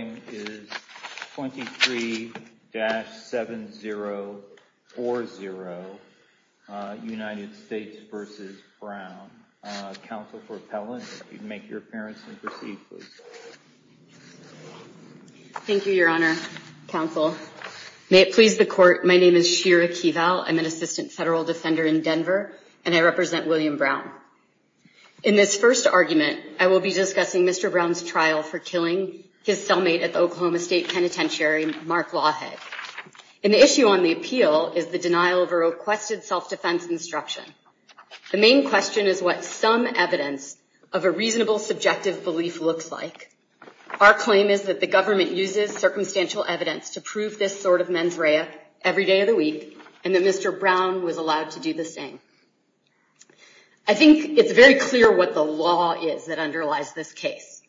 23-7040, United States v. Brown, Counsel for Appellant, if you'd make your appearance and proceed, please. Thank you, Your Honor, Counsel. May it please the Court, my name is Shira Keeval, I'm an Assistant Federal Defender in Denver, and I represent William Brown. In this first argument, I will be discussing Mr. Brown's trial for killing his cellmate at the Oklahoma State Penitentiary, Mark Lawhead. An issue on the appeal is the denial of a requested self-defense instruction. The main question is what some evidence of a reasonable, subjective belief looks like. Our claim is that the government uses circumstantial evidence to prove this sort of mens rea every day of the week, and that Mr. Brown was allowed to do the same. I think it's very clear what the law is that underlies this case.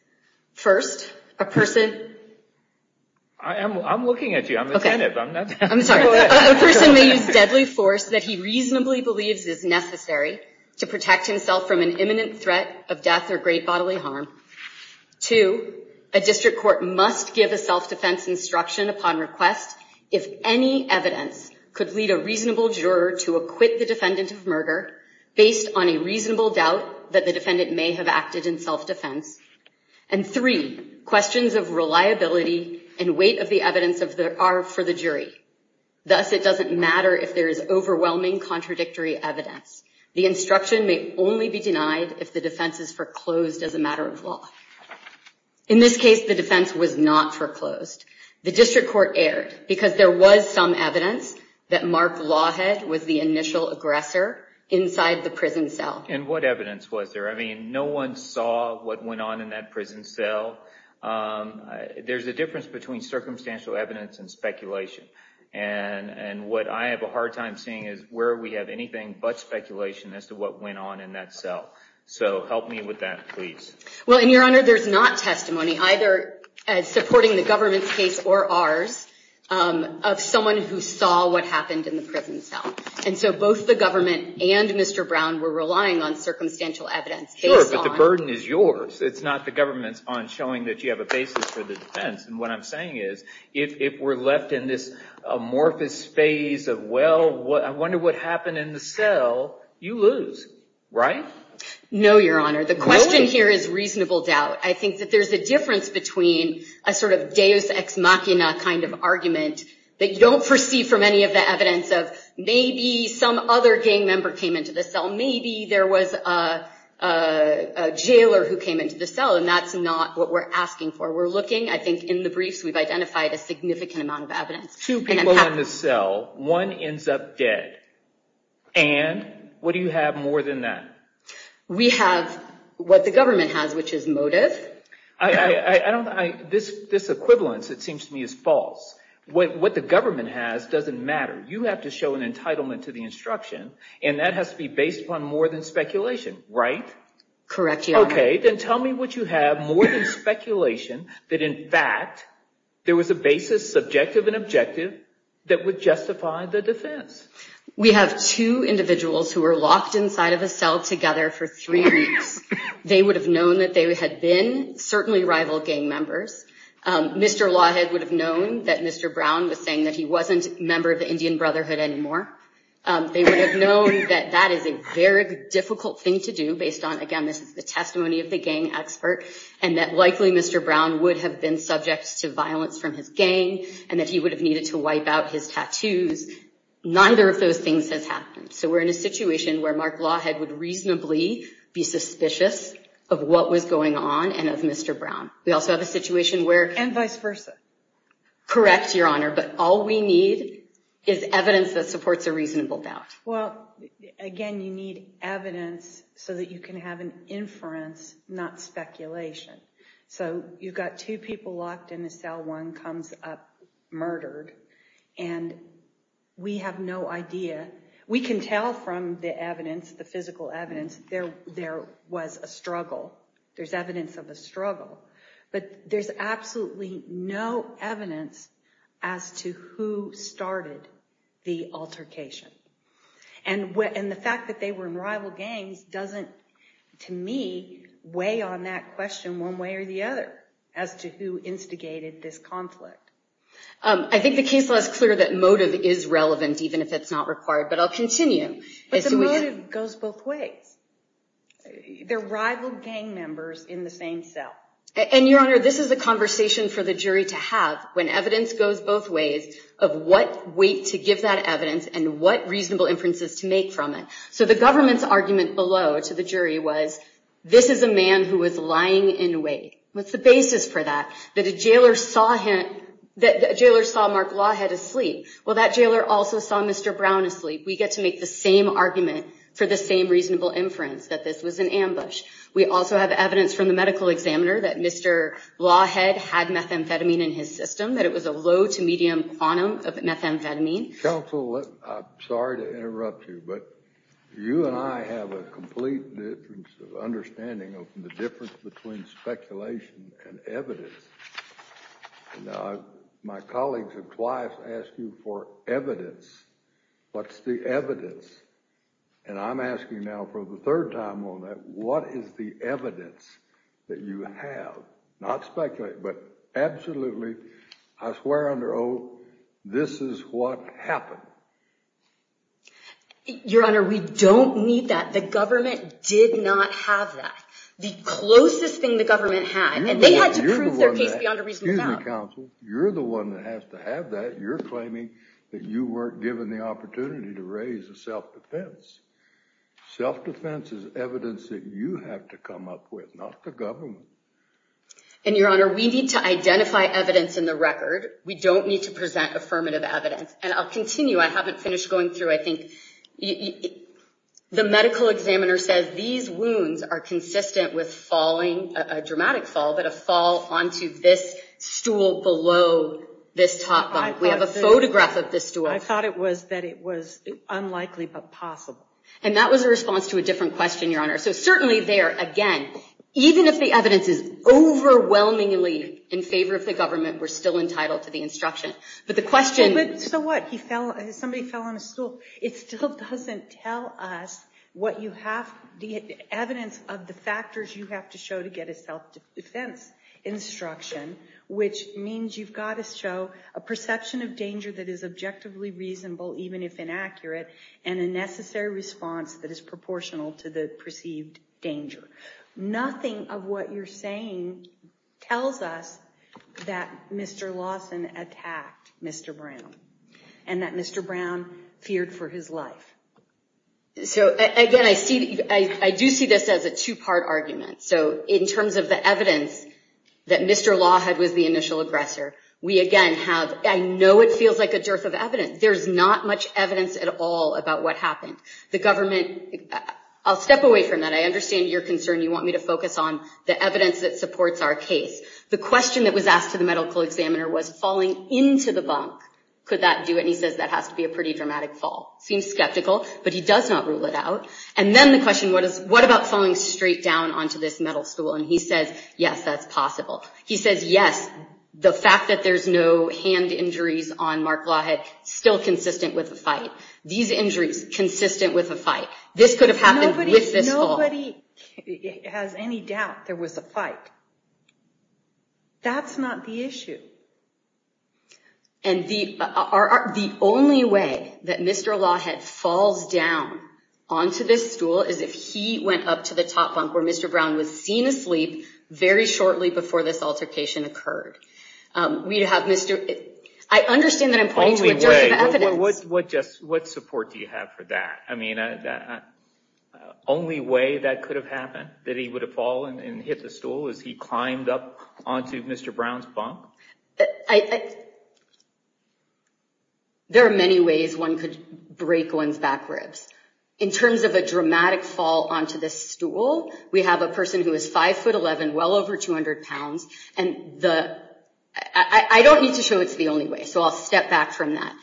First, a person... I'm looking at you, I'm attentive. A person may use deadly force that he reasonably believes is necessary to protect himself from an imminent threat of death or great bodily harm. Two, a district court must give a self-defense instruction upon request if any evidence could lead a reasonable juror to acquit the defendant of murder, based on a reasonable doubt that the defendant may have acted in self-defense. And three, questions of reliability and weight of the evidence are for the jury. Thus, it doesn't matter if there is overwhelming contradictory evidence. The instruction may only be denied if the defense is foreclosed as a matter of law. In this case, the defense was not foreclosed. The district court erred because there was some evidence that Mark Lawhead was the initial aggressor inside the prison cell. And what evidence was there? I mean, no one saw what went on in that prison cell. There's a difference between circumstantial evidence and speculation. And what I have a hard time seeing is where we have anything but speculation as to what went on in that cell. So help me with that, please. Well, and Your Honor, there's not testimony, either supporting the government's case or ours, of someone who saw what happened in the prison cell. And so both the government and Mr. Brown were relying on circumstantial evidence. Sure, but the burden is yours. It's not the government's on showing that you have a basis for the defense. And what I'm saying is, if we're left in this amorphous phase of, well, I wonder what happened in the cell, you lose, right? No, Your Honor. The question here is reasonable doubt. I think that there's a difference between a sort of deus ex machina kind of argument that you don't foresee from any of the evidence of, maybe some other gang member came into the cell, maybe there was a jailer who came into the cell. And that's not what we're asking for. We're looking, I think, in the briefs, we've identified a significant amount of evidence. Two people in the cell, one ends up dead. And what do you have more than that? We have what the government has, which is motive. This equivalence, it seems to me, is false. What the government has doesn't matter. You have to show an entitlement to the instruction, and that has to be based upon more than speculation, right? Correct, Your Honor. Okay, then tell me what you have more than speculation that, in fact, there was a basis, subjective and objective, that would justify the defense. We have two individuals who were locked inside of a cell together for three weeks. They would have known that they had been certainly rival gang members. Mr. Lawhead would have known that Mr. Brown was saying that he wasn't a member of the Indian Brotherhood anymore. They would have known that that is a very difficult thing to do based on, again, this is the testimony of the gang expert, and that likely Mr. Brown would have been subject to violence from his gang, and that he would have needed to wipe out his tattoos. Neither of those things has happened. So we're in a situation where Mark Lawhead would reasonably be suspicious of what was going on and of Mr. Brown. We also have a situation where— And vice versa. Correct, Your Honor, but all we need is evidence that supports a reasonable doubt. Well, again, you need evidence so that you can have an inference, not speculation. So you've got two people locked in a cell. One comes up murdered, and we have no idea. We can tell from the evidence, the physical evidence, there was a struggle. There's evidence of a struggle, but there's absolutely no evidence as to who started the altercation. And the fact that they were in rival gangs doesn't, to me, weigh on that question one way or the other, as to who instigated this conflict. I think the case law is clear that motive is relevant, even if it's not required, but I'll continue. But the motive goes both ways. They're rival gang members in the same cell. And, Your Honor, this is a conversation for the jury to have when evidence goes both ways of what weight to give that evidence and what reasonable inferences to make from it. So the government's argument below to the jury was, this is a man who was lying in wait. What's the basis for that, that a jailer saw Mark Lawhead asleep? Well, that jailer also saw Mr. Brown asleep. We get to make the same argument for the same reasonable inference, that this was an ambush. We also have evidence from the medical examiner that Mr. Lawhead had methamphetamine in his system, that it was a low-to-medium quantum of methamphetamine. Counsel, I'm sorry to interrupt you, but you and I have a complete difference of understanding of the difference between speculation and evidence. Now, my colleagues have twice asked you for evidence. What's the evidence? And I'm asking now for the third time on that, what is the evidence that you have? Not speculate, but absolutely, I swear under oath, this is what happened. Your Honor, we don't need that. The government did not have that. The closest thing the government had, and they had to prove their case beyond a reasonable doubt. Excuse me, counsel. You're the one that has to have that. You're claiming that you weren't given the opportunity to raise a self-defense. Self-defense is evidence that you have to come up with, not the government. And Your Honor, we need to identify evidence in the record. We don't need to present affirmative evidence. And I'll continue. I haven't finished going through. I think the medical examiner says these wounds are consistent with a dramatic fall, but a fall onto this stool below this top bunk. We have a photograph of this stool. I thought it was that it was unlikely but possible. And that was a response to a different question, Your Honor. So certainly there, again, even if the evidence is overwhelmingly in favor of the government, we're still entitled to the instruction. So what? Somebody fell on a stool. It still doesn't tell us the evidence of the factors you have to show to get a self-defense instruction, which means you've got to show a perception of danger that is objectively reasonable, even if inaccurate, and a necessary response that is proportional to the perceived danger. Nothing of what you're saying tells us that Mr. Lawson attacked Mr. Brown and that Mr. Brown feared for his life. So again, I do see this as a two-part argument. So in terms of the evidence that Mr. Lawhead was the initial aggressor, we again have, I know it feels like a dearth of evidence. There's not much evidence at all about what happened. The government, I'll step away from that. I understand your concern. You want me to focus on the evidence that supports our case. The question that was asked to the medical examiner was falling into the bunk. Could that do it? And he says that has to be a pretty dramatic fall. Seems skeptical, but he does not rule it out. And then the question, what about falling straight down onto this metal stool? And he says, yes, that's possible. He says, yes, the fact that there's no hand injuries on Mark Lawhead, still consistent with the fight. These injuries, consistent with the fight. This could have happened with this fall. Nobody has any doubt there was a fight. That's not the issue. And the only way that Mr. Lawhead falls down onto this stool is if he went up to the top bunk where Mr. Brown was seen asleep very shortly before this altercation occurred. I understand that I'm pointing to a dearth of evidence. What support do you have for that? I mean, the only way that could have happened, that he would have fallen and hit the stool, is he climbed up onto Mr. Brown's bunk? There are many ways one could break one's back ribs. In terms of a dramatic fall onto this stool, we have a person who is 5'11", well over 200 pounds, and I don't need to show it's the only way, so I'll step back from that.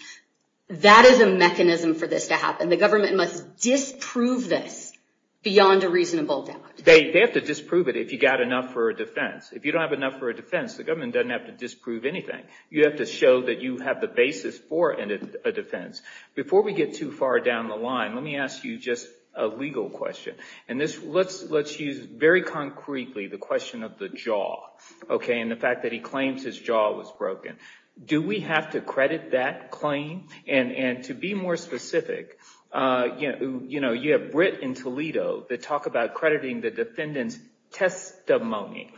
That is a mechanism for this to happen. The government must disprove this beyond a reasonable doubt. They have to disprove it if you've got enough for a defense. If you don't have enough for a defense, the government doesn't have to disprove anything. You have to show that you have the basis for a defense. Before we get too far down the line, let me ask you just a legal question. Let's use very concretely the question of the jaw, and the fact that he claims his jaw was broken. Do we have to credit that claim? And to be more specific, you have Britt and Toledo that talk about crediting the defendant's testimony.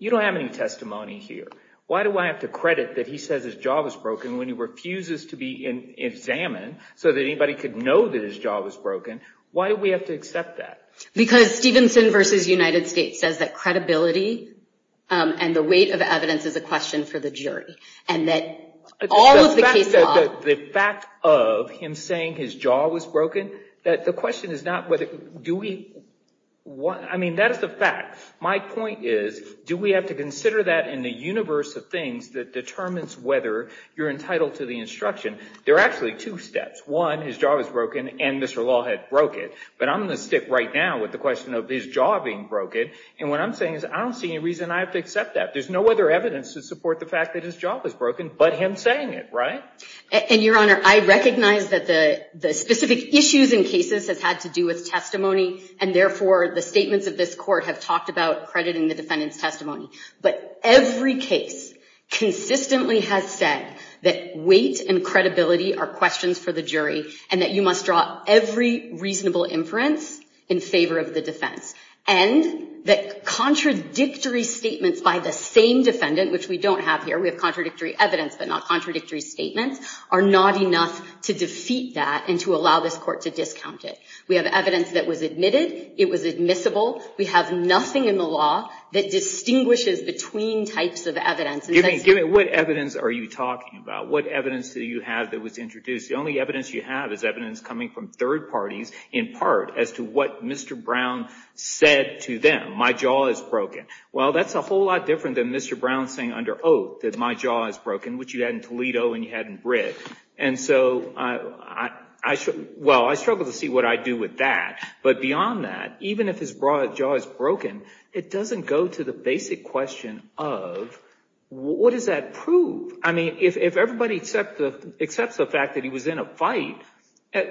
You don't have any testimony here. Why do I have to credit that he says his jaw was broken when he refuses to be examined so that anybody could know that his jaw was broken? Why do we have to accept that? Because Stevenson v. United States says that credibility and the weight of evidence is a question for the jury, and that all of the case law— The fact of him saying his jaw was broken, the question is not whether— I mean, that is the fact. My point is, do we have to consider that in the universe of things that determines whether you're entitled to the instruction? There are actually two steps. One, his jaw was broken, and Mr. Law had broke it. But I'm going to stick right now with the question of his jaw being broken, and what I'm saying is I don't see any reason I have to accept that. There's no other evidence to support the fact that his jaw was broken but him saying it, right? And, Your Honor, I recognize that the specific issues in cases have had to do with testimony, and therefore the statements of this Court have talked about crediting the defendant's testimony. But every case consistently has said that weight and credibility are questions for the jury, and that you must draw every reasonable inference in favor of the defense. And that contradictory statements by the same defendant, which we don't have here— we have contradictory evidence but not contradictory statements— are not enough to defeat that and to allow this Court to discount it. We have evidence that was admitted. It was admissible. We have nothing in the law that distinguishes between types of evidence. Give me what evidence are you talking about? What evidence do you have that was introduced? The only evidence you have is evidence coming from third parties, in part, as to what Mr. Brown said to them. My jaw is broken. Well, that's a whole lot different than Mr. Brown saying under oath that my jaw is broken, which you had in Toledo and you had in Brit. And so, well, I struggle to see what I'd do with that. But beyond that, even if his jaw is broken, it doesn't go to the basic question of what does that prove? I mean, if everybody accepts the fact that he was in a fight,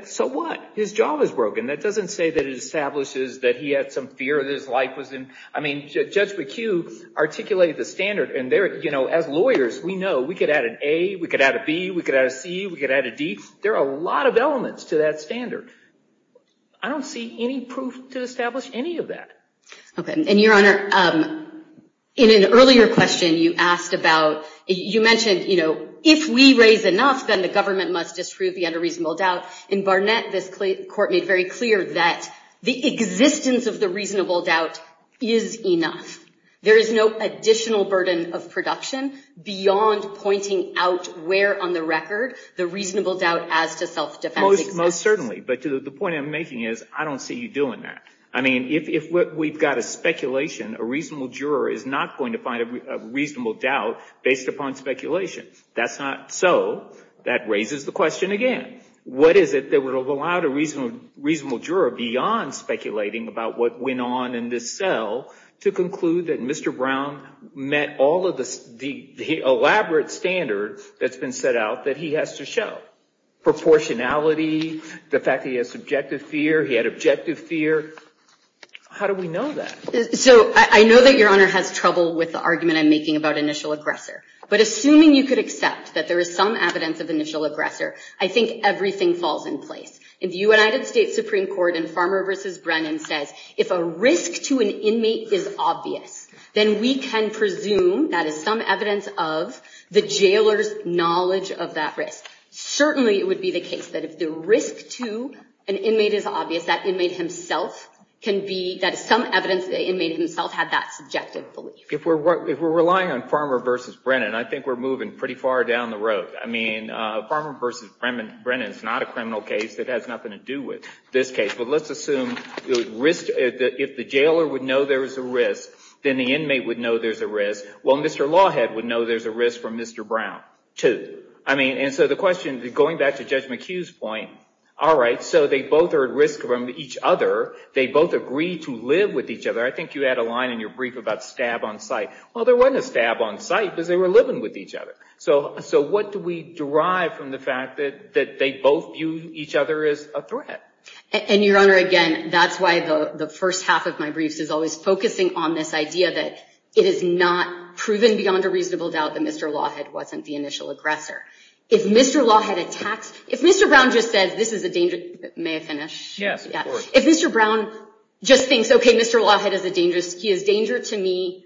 so what? His jaw was broken. That doesn't say that it establishes that he had some fear that his life was in— I mean, Judge McHugh articulated the standard, and there, you know, as lawyers, we know we could add an A, we could add a B, we could add a C, we could add a D. There are a lot of elements to that standard. I don't see any proof to establish any of that. Okay. And, Your Honor, in an earlier question, you asked about—you mentioned, you know, if we raise enough, then the government must disprove the unreasonable doubt. In Barnett, this court made very clear that the existence of the reasonable doubt is enough. There is no additional burden of production beyond pointing out where on the record the reasonable doubt as to self-defense exists. Most certainly. But the point I'm making is I don't see you doing that. I mean, if we've got a speculation, a reasonable juror is not going to find a reasonable doubt based upon speculation. That's not so. That raises the question again. What is it that would have allowed a reasonable juror, beyond speculating about what went on in this cell, to conclude that Mr. Brown met all of the elaborate standards that's been set out that he has to show? Proportionality, the fact that he has subjective fear, he had objective fear. How do we know that? So, I know that Your Honor has trouble with the argument I'm making about initial aggressor. But assuming you could accept that there is some evidence of initial aggressor, I think everything falls in place. In the United States Supreme Court in Farmer v. Brennan says, if a risk to an inmate is obvious, then we can presume that is some evidence of the jailer's knowledge of that risk. Certainly, it would be the case that if the risk to an inmate is obvious, that inmate himself can be, that is some evidence that the inmate himself had that subjective belief. If we're relying on Farmer v. Brennan, I think we're moving pretty far down the road. I mean, Farmer v. Brennan is not a criminal case. It has nothing to do with this case. But let's assume if the jailer would know there was a risk, then the inmate would know there's a risk. Well, Mr. Lawhead would know there's a risk from Mr. Brown, too. And so the question, going back to Judge McHugh's point, all right, so they both are at risk from each other. They both agree to live with each other. I think you had a line in your brief about stab on sight. Well, there wasn't a stab on sight because they were living with each other. So what do we derive from the fact that they both view each other as a threat? And, Your Honor, again, that's why the first half of my briefs is always focusing on this idea that it is not proven beyond a reasonable doubt that Mr. Lawhead wasn't the initial aggressor. If Mr. Lawhead attacks, if Mr. Brown just says, this is a dangerous, may I finish? Yes, of course. If Mr. Brown just thinks, okay, Mr. Lawhead is a dangerous, he is a danger to me,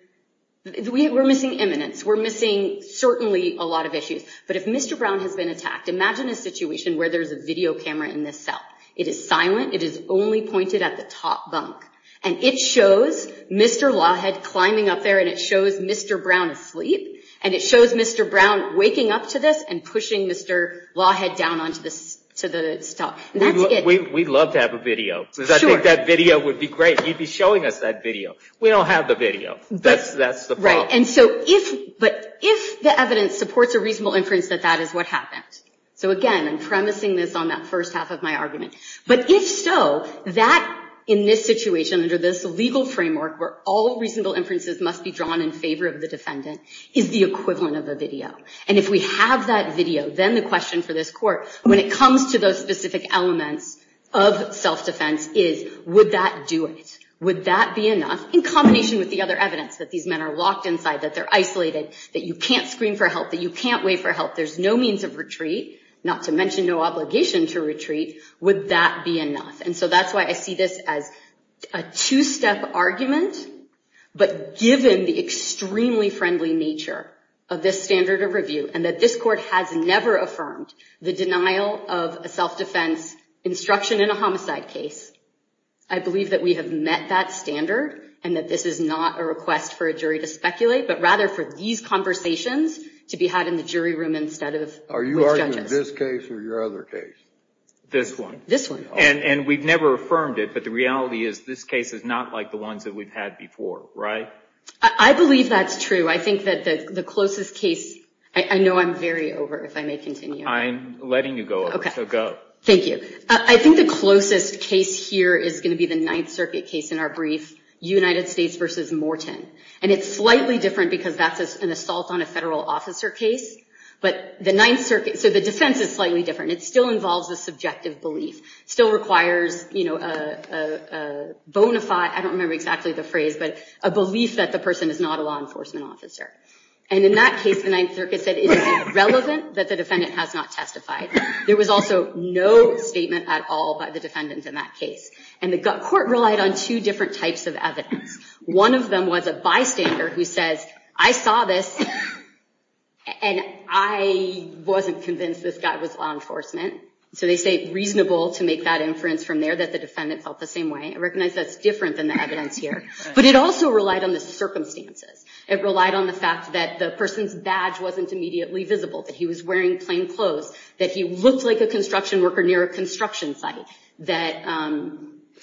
we're missing eminence. We're missing certainly a lot of issues. But if Mr. Brown has been attacked, imagine a situation where there's a video camera in this cell. It is silent. It is only pointed at the top bunk. And it shows Mr. Lawhead climbing up there, and it shows Mr. Brown asleep, and it shows Mr. Brown waking up to this and pushing Mr. Lawhead down onto the stuff. We'd love to have a video. Sure. Because I think that video would be great. He'd be showing us that video. We don't have the video. That's the problem. But if the evidence supports a reasonable inference that that is what happened. So, again, I'm premising this on that first half of my argument. But if so, that, in this situation, under this legal framework, where all reasonable inferences must be drawn in favor of the defendant, is the equivalent of a video. And if we have that video, then the question for this Court, when it comes to those specific elements of self-defense, is would that do it? Would that be enough? In combination with the other evidence, that these men are locked inside, that they're isolated, that you can't scream for help, that you can't wait for help, there's no means of retreat, not to mention no obligation to retreat, would that be enough? And so that's why I see this as a two-step argument. But given the extremely friendly nature of this standard of review, and that this Court has never affirmed the denial of a self-defense instruction in a homicide case, I believe that we have met that standard, and that this is not a request for a jury to speculate, but rather for these conversations to be had in the jury room instead of with judges. Are you arguing this case or your other case? This one. This one. And we've never affirmed it, but the reality is this case is not like the ones that we've had before, right? I believe that's true. I think that the closest case – I know I'm very over, if I may continue. I'm letting you go over, so go. Thank you. I think the closest case here is going to be the Ninth Circuit case in our brief, United States v. Morton. And it's slightly different because that's an assault on a federal officer case, but the Ninth Circuit – so the defense is slightly different. It still involves a subjective belief. It still requires a bona fide – I don't remember exactly the phrase, but a belief that the person is not a law enforcement officer. And in that case, the Ninth Circuit said, is it relevant that the defendant has not testified? There was also no statement at all by the defendant in that case. And the court relied on two different types of evidence. One of them was a bystander who says, I saw this, and I wasn't convinced this guy was law enforcement. So they say reasonable to make that inference from there, that the defendant felt the same way. I recognize that's different than the evidence here. But it also relied on the circumstances. It relied on the fact that the person's badge wasn't immediately visible, that he was wearing plain clothes, that he looked like a construction worker near a construction site, that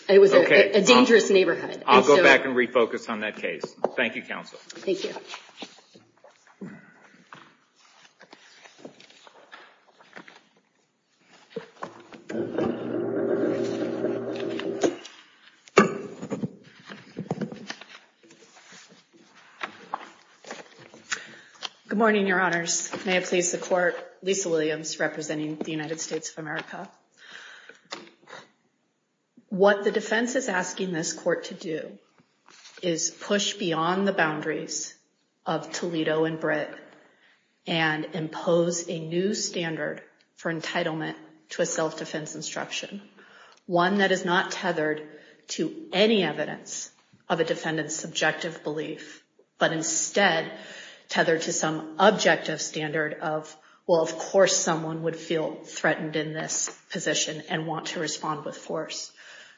it was a dangerous neighborhood. I'll go back and refocus on that case. Thank you, counsel. Thank you. Good morning, Your Honors. May it please the court, Lisa Williams representing the United States of America. What the defense is asking this court to do is push beyond the boundaries of Toledo and Britt and impose a new standard for entitlement to a self-defense instruction. One that is not tethered to any evidence of a defendant's subjective belief, but instead tethered to some objective standard of, well, of course someone would feel threatened in this position and want to respond with force.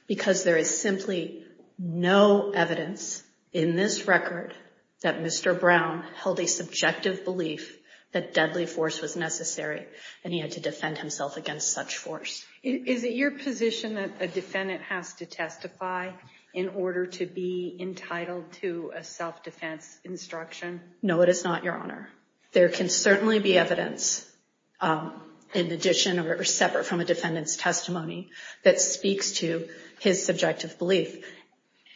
Because there is simply no evidence in this record that Mr. Brown held a subjective belief that deadly force was necessary and he had to defend himself against such force. Is it your position that a defendant has to testify in order to be entitled to a self-defense instruction? No, it is not, Your Honor. There can certainly be evidence in addition or separate from a defendant's testimony that speaks to his subjective belief.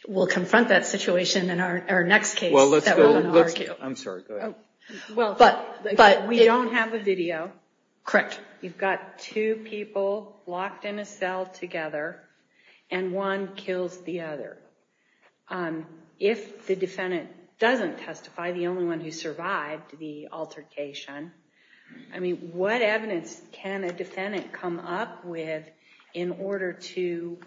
We'll confront that situation in our next case. I'm sorry, go ahead. But we don't have a video. Correct. You've got two people locked in a cell together and one kills the other. If the defendant doesn't testify, the only one who survived the altercation, I mean, what evidence can a defendant come up with in order to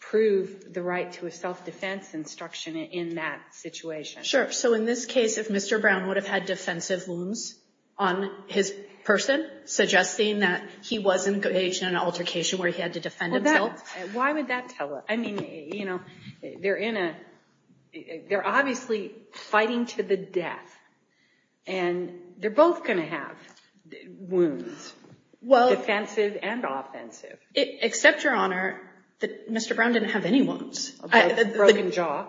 prove the right to a self-defense instruction in that situation? Sure. So in this case, if Mr. Brown would have had defensive wounds on his person, suggesting that he was engaged in an altercation where he had to defend himself? Why would that tell us? I mean, you know, they're obviously fighting to the death, and they're both going to have wounds, defensive and offensive. Except, Your Honor, that Mr. Brown didn't have any wounds. A broken jaw.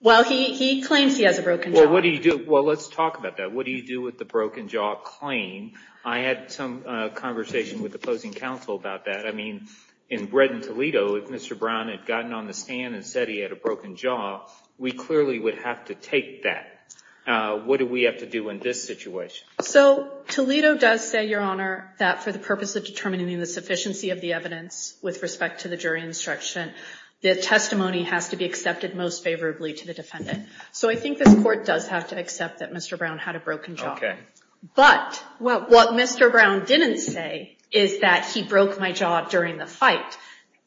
Well, he claims he has a broken jaw. Well, what do you do? Well, let's talk about that. What do you do with the broken jaw claim? I had some conversation with opposing counsel about that. I mean, in Bretton, Toledo, if Mr. Brown had gotten on the stand and said he had a broken jaw, we clearly would have to take that. What do we have to do in this situation? So Toledo does say, Your Honor, that for the purpose of determining the sufficiency of the evidence with respect to the jury instruction, the testimony has to be accepted most favorably to the defendant. So I think this Court does have to accept that Mr. Brown had a broken jaw. Okay. But what Mr. Brown didn't say is that he broke my jaw during the fight.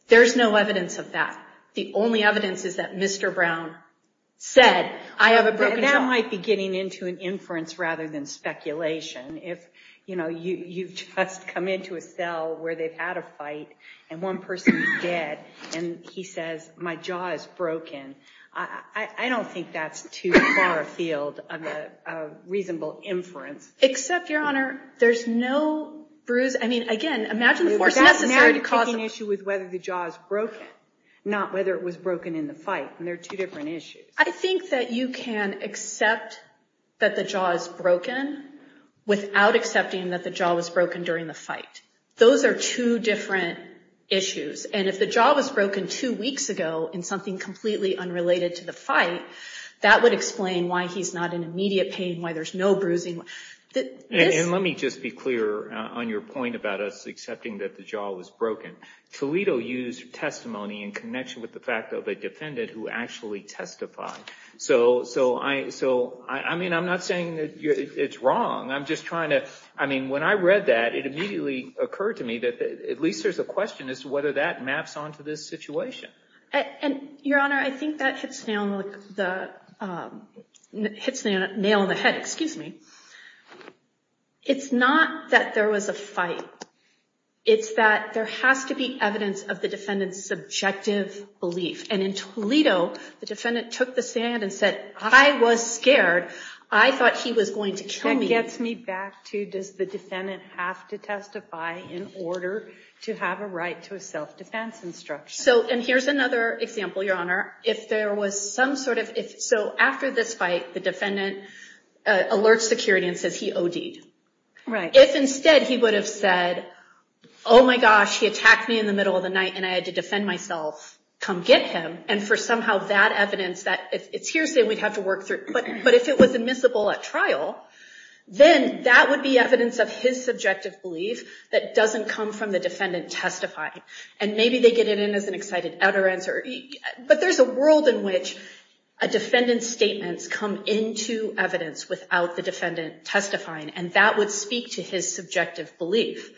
There's no evidence of that. The only evidence is that Mr. Brown said, I have a broken jaw. That might be getting into an inference rather than speculation. If, you know, you've just come into a cell where they've had a fight and one person is dead and he says, my jaw is broken, I don't think that's too far afield of a reasonable inference. Except, Your Honor, there's no bruise. I mean, again, imagine the force necessary to cause it. The only issue is whether the jaw is broken, not whether it was broken in the fight, and they're two different issues. I think that you can accept that the jaw is broken without accepting that the jaw was broken during the fight. Those are two different issues. And if the jaw was broken two weeks ago in something completely unrelated to the fight, that would explain why he's not in immediate pain, why there's no bruising. And let me just be clear on your point about us accepting that the jaw was broken. Toledo used testimony in connection with the fact of a defendant who actually testified. So, I mean, I'm not saying that it's wrong. I'm just trying to, I mean, when I read that, it immediately occurred to me that at least there's a question as to whether that maps onto this situation. Your Honor, I think that hits the nail on the head. Excuse me. It's not that there was a fight. It's that there has to be evidence of the defendant's subjective belief. And in Toledo, the defendant took the stand and said, I was scared. I thought he was going to kill me. That gets me back to, does the defendant have to testify in order to have a right to a self-defense instruction? So, and here's another example, Your Honor. If there was some sort of, so after this fight, the defendant alerts security and says he OD'd. If instead he would have said, oh my gosh, he attacked me in the middle of the night and I had to defend myself, come get him. And for somehow that evidence, it's hearsay we'd have to work through. But if it was admissible at trial, then that would be evidence of his subjective belief that doesn't come from the defendant testifying. And maybe they get it in as an excited utterance. But there's a world in which a defendant's statements come into evidence without the defendant testifying, and that would speak to his subjective belief.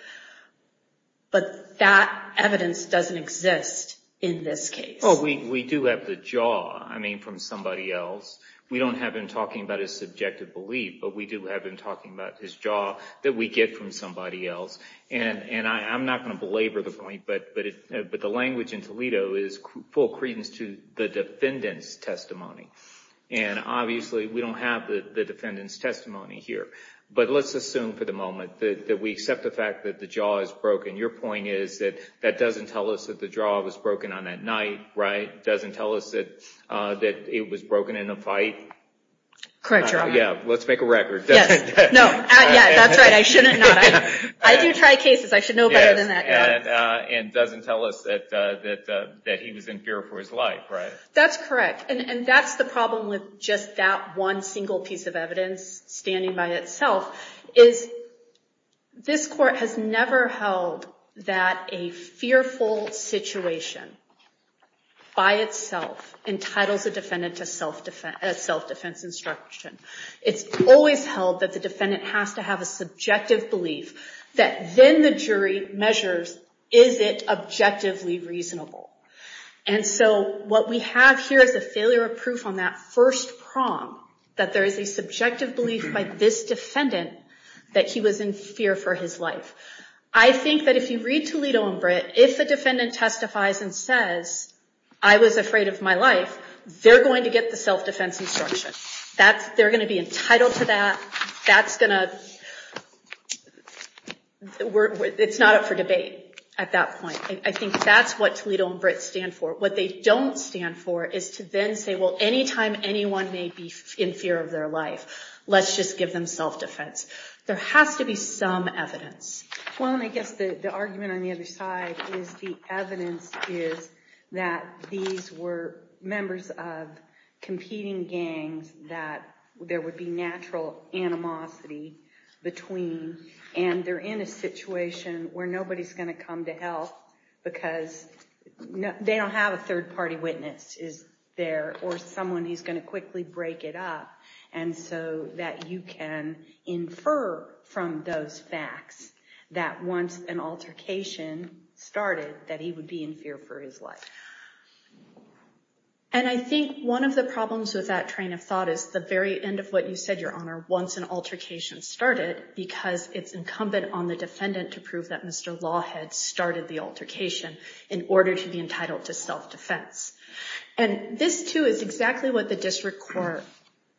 But that evidence doesn't exist in this case. Well, we do have the jaw, I mean, from somebody else. We don't have him talking about his subjective belief, but we do have him talking about his jaw that we get from somebody else. And I'm not going to belabor the point, but the language in Toledo is full credence to the defendant's testimony. And obviously we don't have the defendant's testimony here. But let's assume for the moment that we accept the fact that the jaw is broken. Your point is that that doesn't tell us that the jaw was broken on that night, right? It doesn't tell us that it was broken in a fight? Correct, Your Honor. Yeah, let's make a record. Yes. No, that's right. I shouldn't. I do try cases. I should know better than that. And it doesn't tell us that he was in fear for his life, right? That's correct. And that's the problem with just that one single piece of evidence standing by itself, is this Court has never held that a fearful situation by itself entitles a defendant to self-defense instruction. It's always held that the defendant has to have a subjective belief that then the jury measures, is it objectively reasonable? And so what we have here is a failure of proof on that first prong, that there is a subjective belief by this defendant that he was in fear for his life. I think that if you read Toledo and Britt, if the defendant testifies and says, I was afraid of my life, they're going to get the self-defense instruction. They're going to be entitled to that. It's not up for debate at that point. I think that's what Toledo and Britt stand for. What they don't stand for is to then say, well, any time anyone may be in fear of their life, let's just give them self-defense. There has to be some evidence. Well, and I guess the argument on the other side is the evidence is that these were members of competing gangs, that there would be natural animosity between, and they're in a situation where nobody's going to come to help because they don't have a third-party witness there, or someone who's going to quickly break it up, and so that you can infer from those facts that once an altercation started, that he would be in fear for his life. And I think one of the problems with that train of thought is the very end of what you said, Your Honor, once an altercation started, because it's incumbent on the defendant to prove that Mr. Lawhead started the altercation in order to be entitled to self-defense. And this, too, is exactly what the district court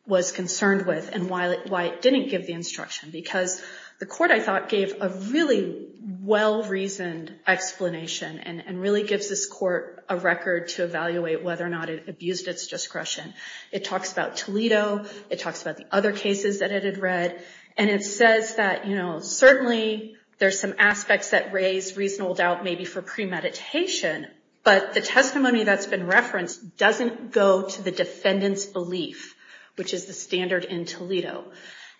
was concerned with and why it didn't give the instruction, because the court, I thought, gave a really well-reasoned explanation and really gives this court a record to evaluate whether or not it abused its discretion. It talks about Toledo. It talks about the other cases that it had read. And it says that, you know, certainly there's some aspects that raise reasonable doubt maybe for premeditation, but the testimony that's been referenced doesn't go to the defendant's belief, which is the standard in Toledo.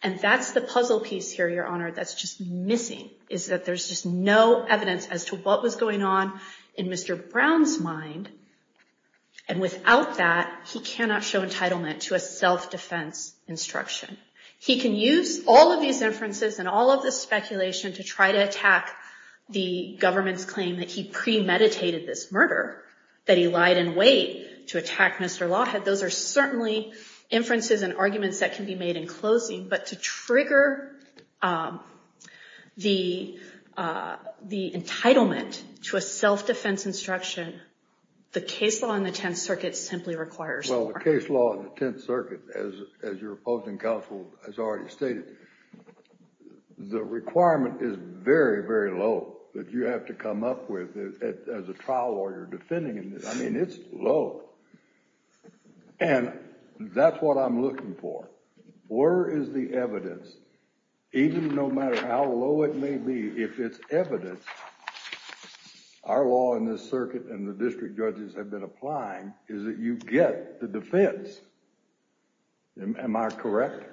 And that's the puzzle piece here, Your Honor, that's just missing, is that there's just no evidence as to what was going on in Mr. Brown's mind, and without that, he cannot show entitlement to a self-defense instruction. He can use all of these inferences and all of this speculation to try to attack the government's claim that he premeditated this murder, that he lied in wait to attack Mr. Lawhead. Those are certainly inferences and arguments that can be made in closing, but to trigger the entitlement to a self-defense instruction, the case law in the Tenth Circuit simply requires more. Well, the case law in the Tenth Circuit, as your opposing counsel has already stated, the requirement is very, very low that you have to come up with as a trial lawyer defending it. I mean, it's low. And that's what I'm looking for. Where is the evidence? Even no matter how low it may be, if it's evidence, our law in this circuit and the district judges have been applying, is that you get the defense. Am I correct?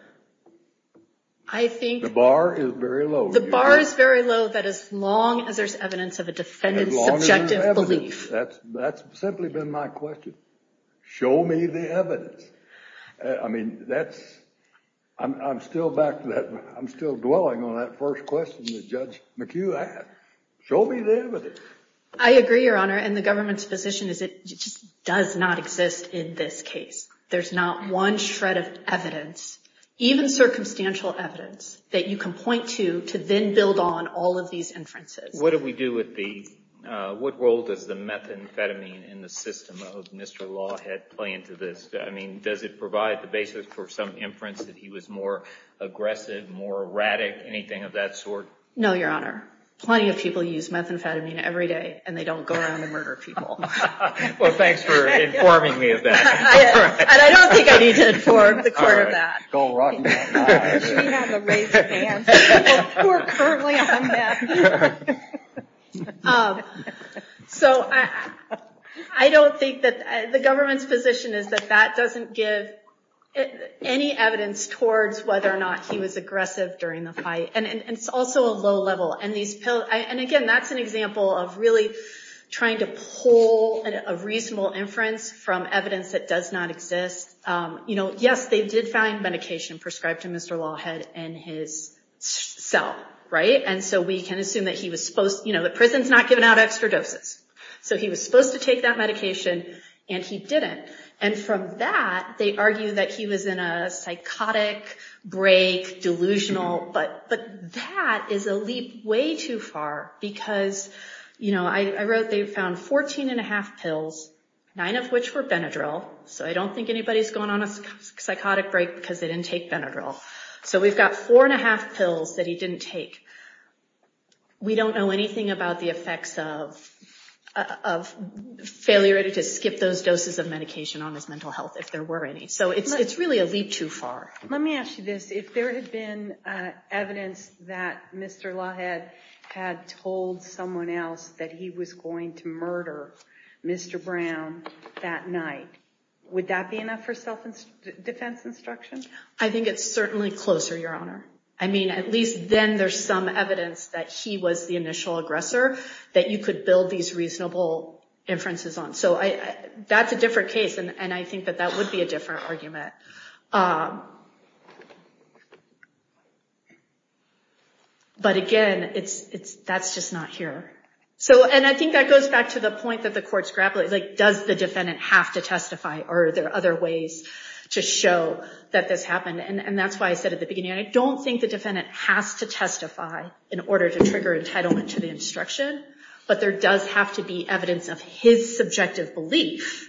The bar is very low. The bar is very low that as long as there's evidence of a defendant's subjective belief. That's simply been my question. Show me the evidence. I mean, I'm still dwelling on that first question that Judge McHugh asked. Show me the evidence. I agree, Your Honor. And the government's position is it just does not exist in this case. There's not one shred of evidence, even circumstantial evidence, that you can point to to then build on all of these inferences. What do we do with the, what role does the methamphetamine in the system of Mr. Lawhead play into this? I mean, does it provide the basis for some inference that he was more aggressive, more erratic, anything of that sort? No, Your Honor. Plenty of people use methamphetamine every day, and they don't go around and murder people. Well, thanks for informing me of that. And I don't think I need to inform the court of that. We have a raised hand. People who are currently on meth. So I don't think that, the government's position is that that doesn't give any evidence towards whether or not he was aggressive during the fight. And it's also a low level. And, again, that's an example of really trying to pull a reasonable inference from evidence that does not exist. Yes, they did find medication prescribed to Mr. Lawhead in his cell, right? And so we can assume that he was supposed, you know, the prison's not giving out extra doses. So he was supposed to take that medication, and he didn't. And from that, they argue that he was in a psychotic break, delusional. But that is a leap way too far, because, you know, I wrote they found 14 and a half pills, nine of which were Benadryl. So I don't think anybody's going on a psychotic break because they didn't take Benadryl. So we've got four and a half pills that he didn't take. We don't know anything about the effects of failure to skip those doses of medication on his mental health, if there were any. So it's really a leap too far. Let me ask you this. If there had been evidence that Mr. Lawhead had told someone else that he was going to murder Mr. Brown that night, would that be enough for self-defense instruction? I think it's certainly closer, Your Honor. I mean, at least then there's some evidence that he was the initial aggressor that you could build these reasonable inferences on. So that's a different case, and I think that that would be a different argument. But again, that's just not here. And I think that goes back to the point that the courts grapple with, like, does the defendant have to testify, or are there other ways to show that this happened? And that's why I said at the beginning, I don't think the defendant has to testify in order to trigger entitlement to the instruction, but there does have to be evidence of his subjective belief.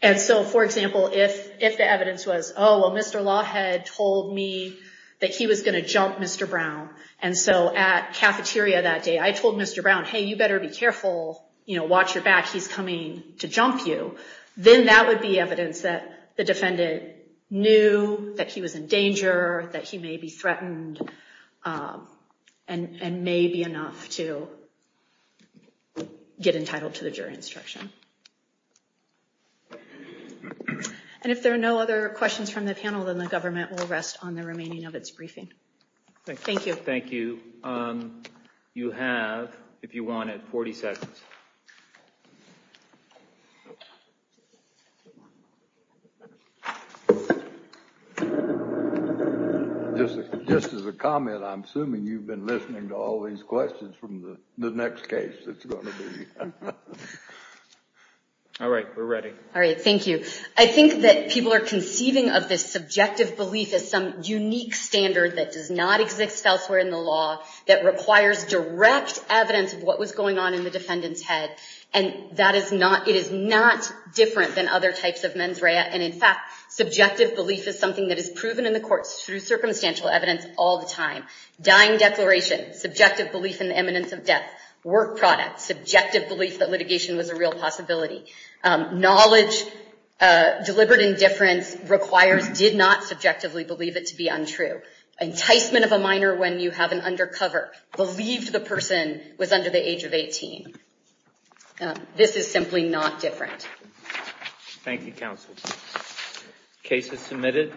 And so, for example, if the evidence was, oh, well, Mr. Lawhead told me that he was going to jump Mr. Brown. And so at cafeteria that day, I told Mr. Brown, hey, you better be careful. Watch your back. He's coming to jump you. Then that would be evidence that the defendant knew that he was in danger, that he may be threatened, and may be enough to get entitled to the jury instruction. And if there are no other questions from the panel, then the government will rest on the remaining of its briefing. Thank you. Thank you. You have, if you wanted, 40 seconds. Just as a comment, I'm assuming you've been listening to all these questions from the next case that's going to be. All right, we're ready. All right, thank you. I think that people are conceiving of this subjective belief as some unique standard that does not exist elsewhere in the law, that requires direct evidence of what was going on in the defendant's head. And it is not different than other types of mens rea. And in fact, subjective belief is something that is proven in the courts through circumstantial evidence all the time. Dying declaration, subjective belief in the eminence of death. Work product, subjective belief that litigation was a real possibility. Knowledge, deliberate indifference, requires did not subjectively believe it to be untrue. Enticement of a minor when you have an undercover. Believed the person was under the age of 18. This is simply not different. Thank you, counsel. Case is submitted.